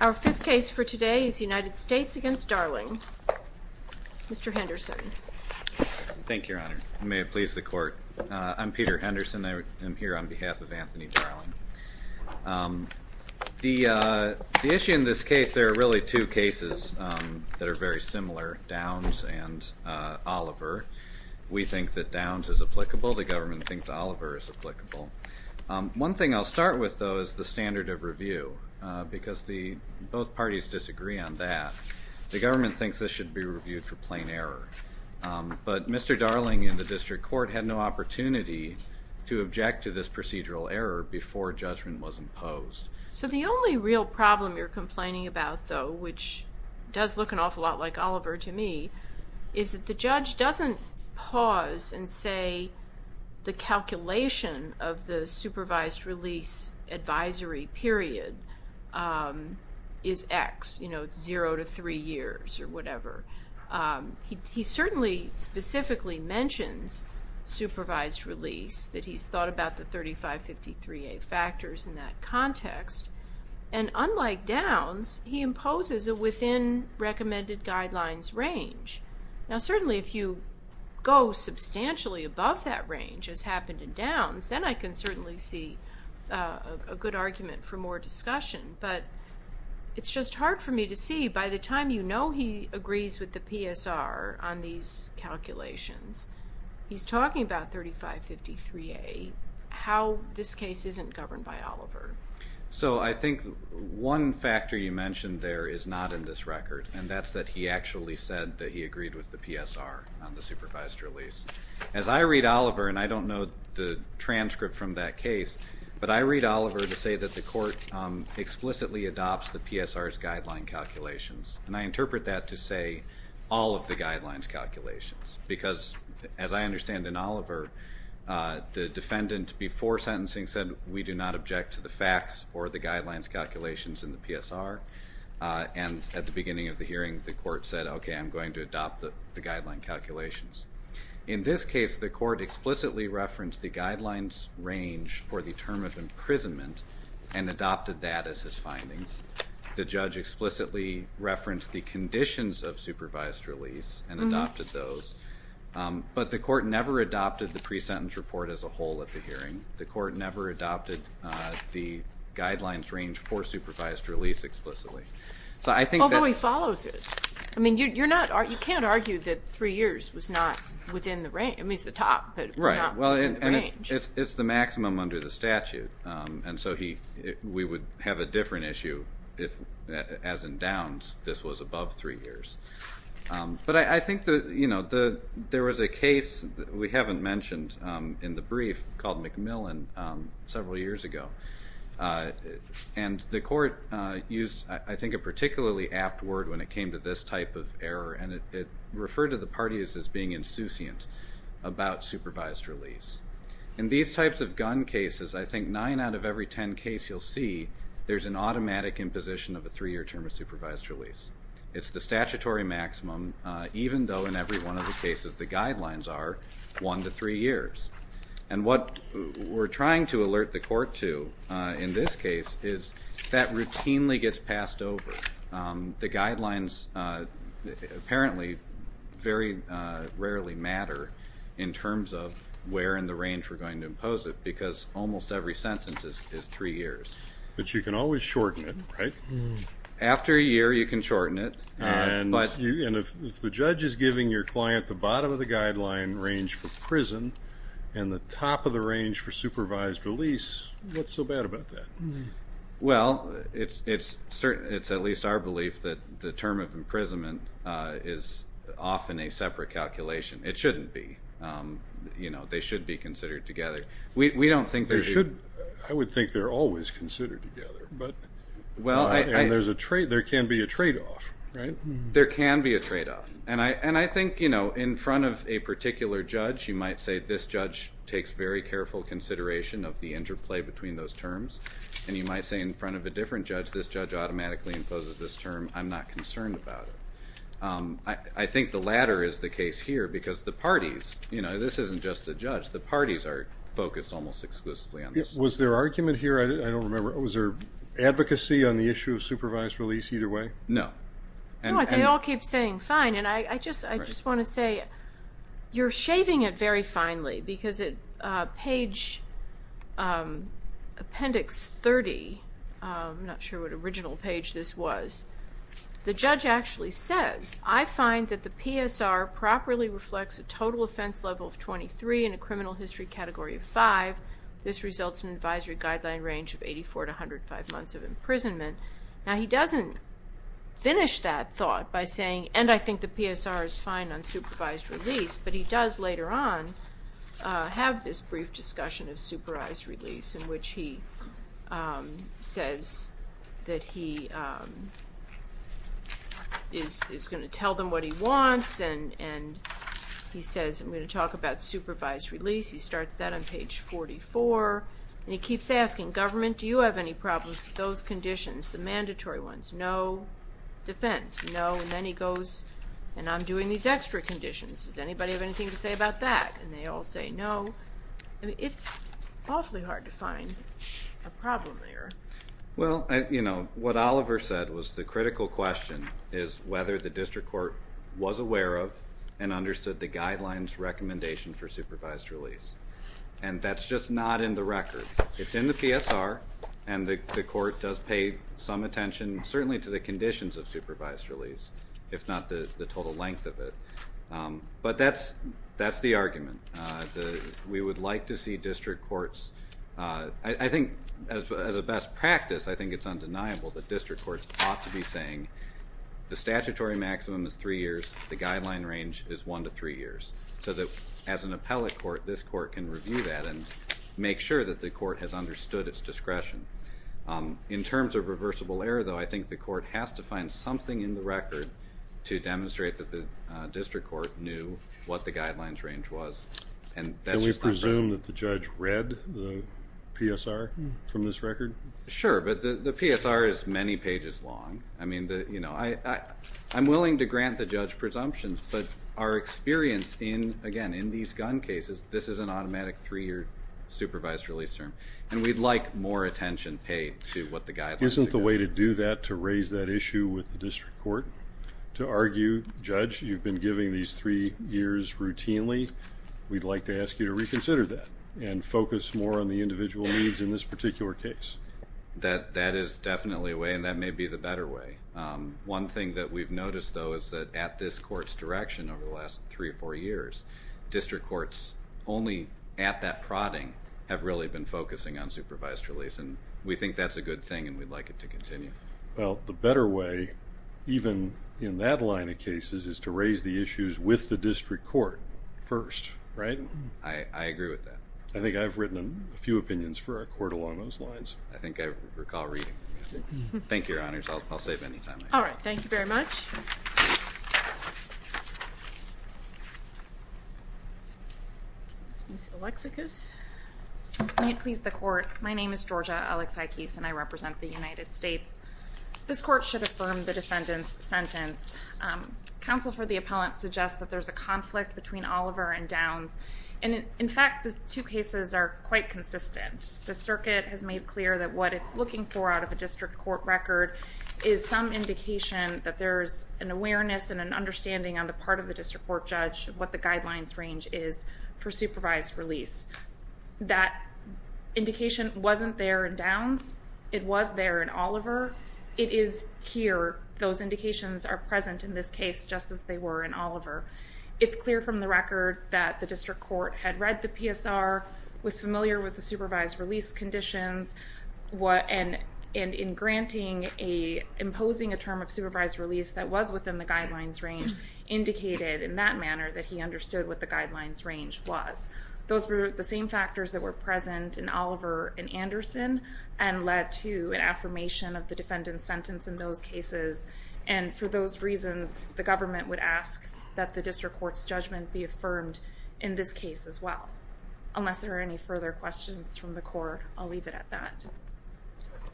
Our fifth case for today is United States v. Darling. Mr. Henderson. Thank you, Your Honor. May it please the Court. I'm Peter Henderson. I am here on behalf of Anthony Darling. The issue in this case, there are really two cases that are very similar, Downs v. Oliver. We think that Downs is applicable. The government thinks Oliver is applicable. One thing I'll start with, though, is the standard of review, because both parties disagree on that. The government thinks this should be reviewed for plain error. But Mr. Darling in the District Court had no opportunity to object to this procedural error before judgment was imposed. So the only real problem you're complaining about, though, which does look an awful lot like Oliver to me, is that the judge doesn't pause and say the calculation of the supervised release advisory period is X, you know, zero to three years or whatever. He certainly specifically mentions supervised release, that he's thought about the 3553A factors in that context. And Now, certainly if you go substantially above that range, as happened in Downs, then I can certainly see a good argument for more discussion. But it's just hard for me to see, by the time you know he agrees with the PSR on these calculations, he's talking about 3553A, how this case isn't governed by Oliver. So I think one factor you mentioned there is not in this record, and that's that he actually said that he agreed with the PSR on the supervised release. As I read Oliver, and I don't know the transcript from that case, but I read Oliver to say that the court explicitly adopts the PSR's guideline calculations. And I interpret that to say all of the guidelines calculations, because as I understand in Oliver, the defendant before sentencing said, we do not object to the facts or the guidelines calculations in the PSR. And at the beginning of the hearing, the court said, okay, I'm going to adopt the guideline calculations. In this case, the court explicitly referenced the guidelines range for the term of imprisonment and adopted that as his findings. The judge explicitly referenced the conditions of supervised release and adopted those. But the court never adopted the pre-sentence report as a whole at the hearing. The court never adopted the guidelines range for supervised release explicitly. Although he follows it. I mean, you can't argue that three years was not within the range. I mean, it's the top, but not within the range. Right. Well, and it's the maximum under the statute. And so we would have a different issue if, as in Downs, this was above three years. But I think there was a case we haven't mentioned in the brief called McMillan several years ago. And the court used, I think, a particularly apt word when it came to this type of error. And it referred to the parties as being insouciant about supervised release. In these types of gun cases, I think nine out of every ten case you'll see, there's an automatic imposition of a three-year term of supervised release. It's the statutory maximum, even though in every one of the cases the guidelines are one to three years. And what we're trying to alert the court to in this case is that routinely gets passed over. The guidelines apparently very rarely matter in terms of where in the range we're going to impose it, because almost every sentence is three years. But you can always shorten it, right? After a year, you can shorten it. And if the judge is giving your client the bottom-of-the-guideline range for prison and the top-of-the-range for supervised release, what's so bad about that? Well, it's at least our belief that the term of imprisonment is often a separate calculation. It shouldn't be. You know, they should be considered together. We don't think they should. I would think they're always considered together. And there can be a trade-off, right? There can be a trade-off. And I think, you know, in front of a particular judge you might say, this judge takes very careful consideration of the interplay between those terms. And you might say in front of a different judge, this judge automatically imposes this term, I'm not concerned about it. I think the latter is the case here, because the parties, you know, this isn't just the judge. The parties are focused almost exclusively on this. Was there argument here? I don't remember. Was there advocacy on the issue of supervised release either way? No. They all keep saying fine. And I just want to say, you're shaving it very finely, because at page Appendix 30, I'm not sure what original page this was, the judge actually says, I find that the PSR properly reflects a total offense level of 23 and a criminal history category of 5. This results in an advisory guideline range of 84 to 105 months of imprisonment. Now, he doesn't finish that thought by saying, and I think the PSR is fine on supervised release, but he does later on have this brief discussion of supervised release in which he says that he is going to tell them what he wants, and he says, I'm going to talk about supervised release. He starts that on page 44, and he keeps asking government, do you have any problems with those conditions, the mandatory ones, no defense, no, and then he goes, and I'm doing these extra conditions. Does anybody have anything to say about that? And they all say no. It's awfully hard to find a problem there. Well, what Oliver said was the critical question is whether the district court was aware of and understood the guidelines recommendation for supervised release. And that's just not in the record. It's in the PSR, and the court does pay some attention, certainly to the conditions of supervised release, if not the total length of it. But that's the argument. We would like to see district courts, I think as a best practice, I think it's undeniable that district courts ought to be saying the statutory maximum is three years, the guideline range is one to three years, so that as an appellate court, this court can review that and make sure that the court has understood its discretion. In terms of reversible error, though, I think the court has to find something in the record to demonstrate that the district court knew what the guidelines range was, and that's just not present. Can we presume that the judge read the PSR from this record? Sure, but the PSR is many pages long. I mean, I'm willing to grant the judge presumptions, but our experience in, again, in these gun cases, this is an automatic three-year supervised release term, and we'd like more attention paid to what the guidelines suggest. Isn't the way to do that, to raise that issue with the district court, to argue, Judge, you've been giving these three years routinely, we'd like to ask you to reconsider that and focus more on the individual needs in this particular case? That is definitely a way, and that may be the better way. One thing that we've noticed, though, is that at this court's direction over the last three or four years, district courts only at that prodding have really been focusing on supervised release, and we think that's a good thing and we'd like it to continue. Well, the better way, even in that line of cases, is to raise the issues with the district court first, right? I agree with that. I think I've written a few opinions for our court along those lines. I think I recall reading. Thank you, Your Honors. I'll save any time. All right. Thank you very much. May it please the court. My name is Georgia Alexakis, and I represent the United States. This court should affirm the defendant's sentence. Counsel for the appellant suggests that there's a conflict between Oliver and Downs, and in fact, the two cases are quite consistent. The circuit has made clear that what it's looking for out of a district court record is some indication that there's an awareness and an understanding on the part of the district court judge what the guidelines range is for supervised release. That indication wasn't there in Downs. It was there in Oliver. It is here. Those indications are present in this case, just as they were in Oliver. It's clear from the record that the district court had read the PSR, was familiar with the supervised release conditions, and in granting, imposing a term of supervised release that was within the guidelines range, indicated in that manner that he understood what the guidelines range was. Those were the same factors that were present in Oliver and Anderson, and led to an affirmation of the defendant's sentence in those cases. For those reasons, the government would ask that the district court's judgment be affirmed in this case as well, unless there are any further questions from the court. I'll leave it at that.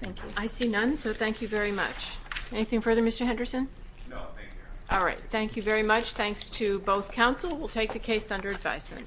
Thank you. I see none, so thank you very much. Anything further, Mr. Henderson? No, thank you. All right. Thank you very much. Thanks to both counsel. We'll take the case under advisement.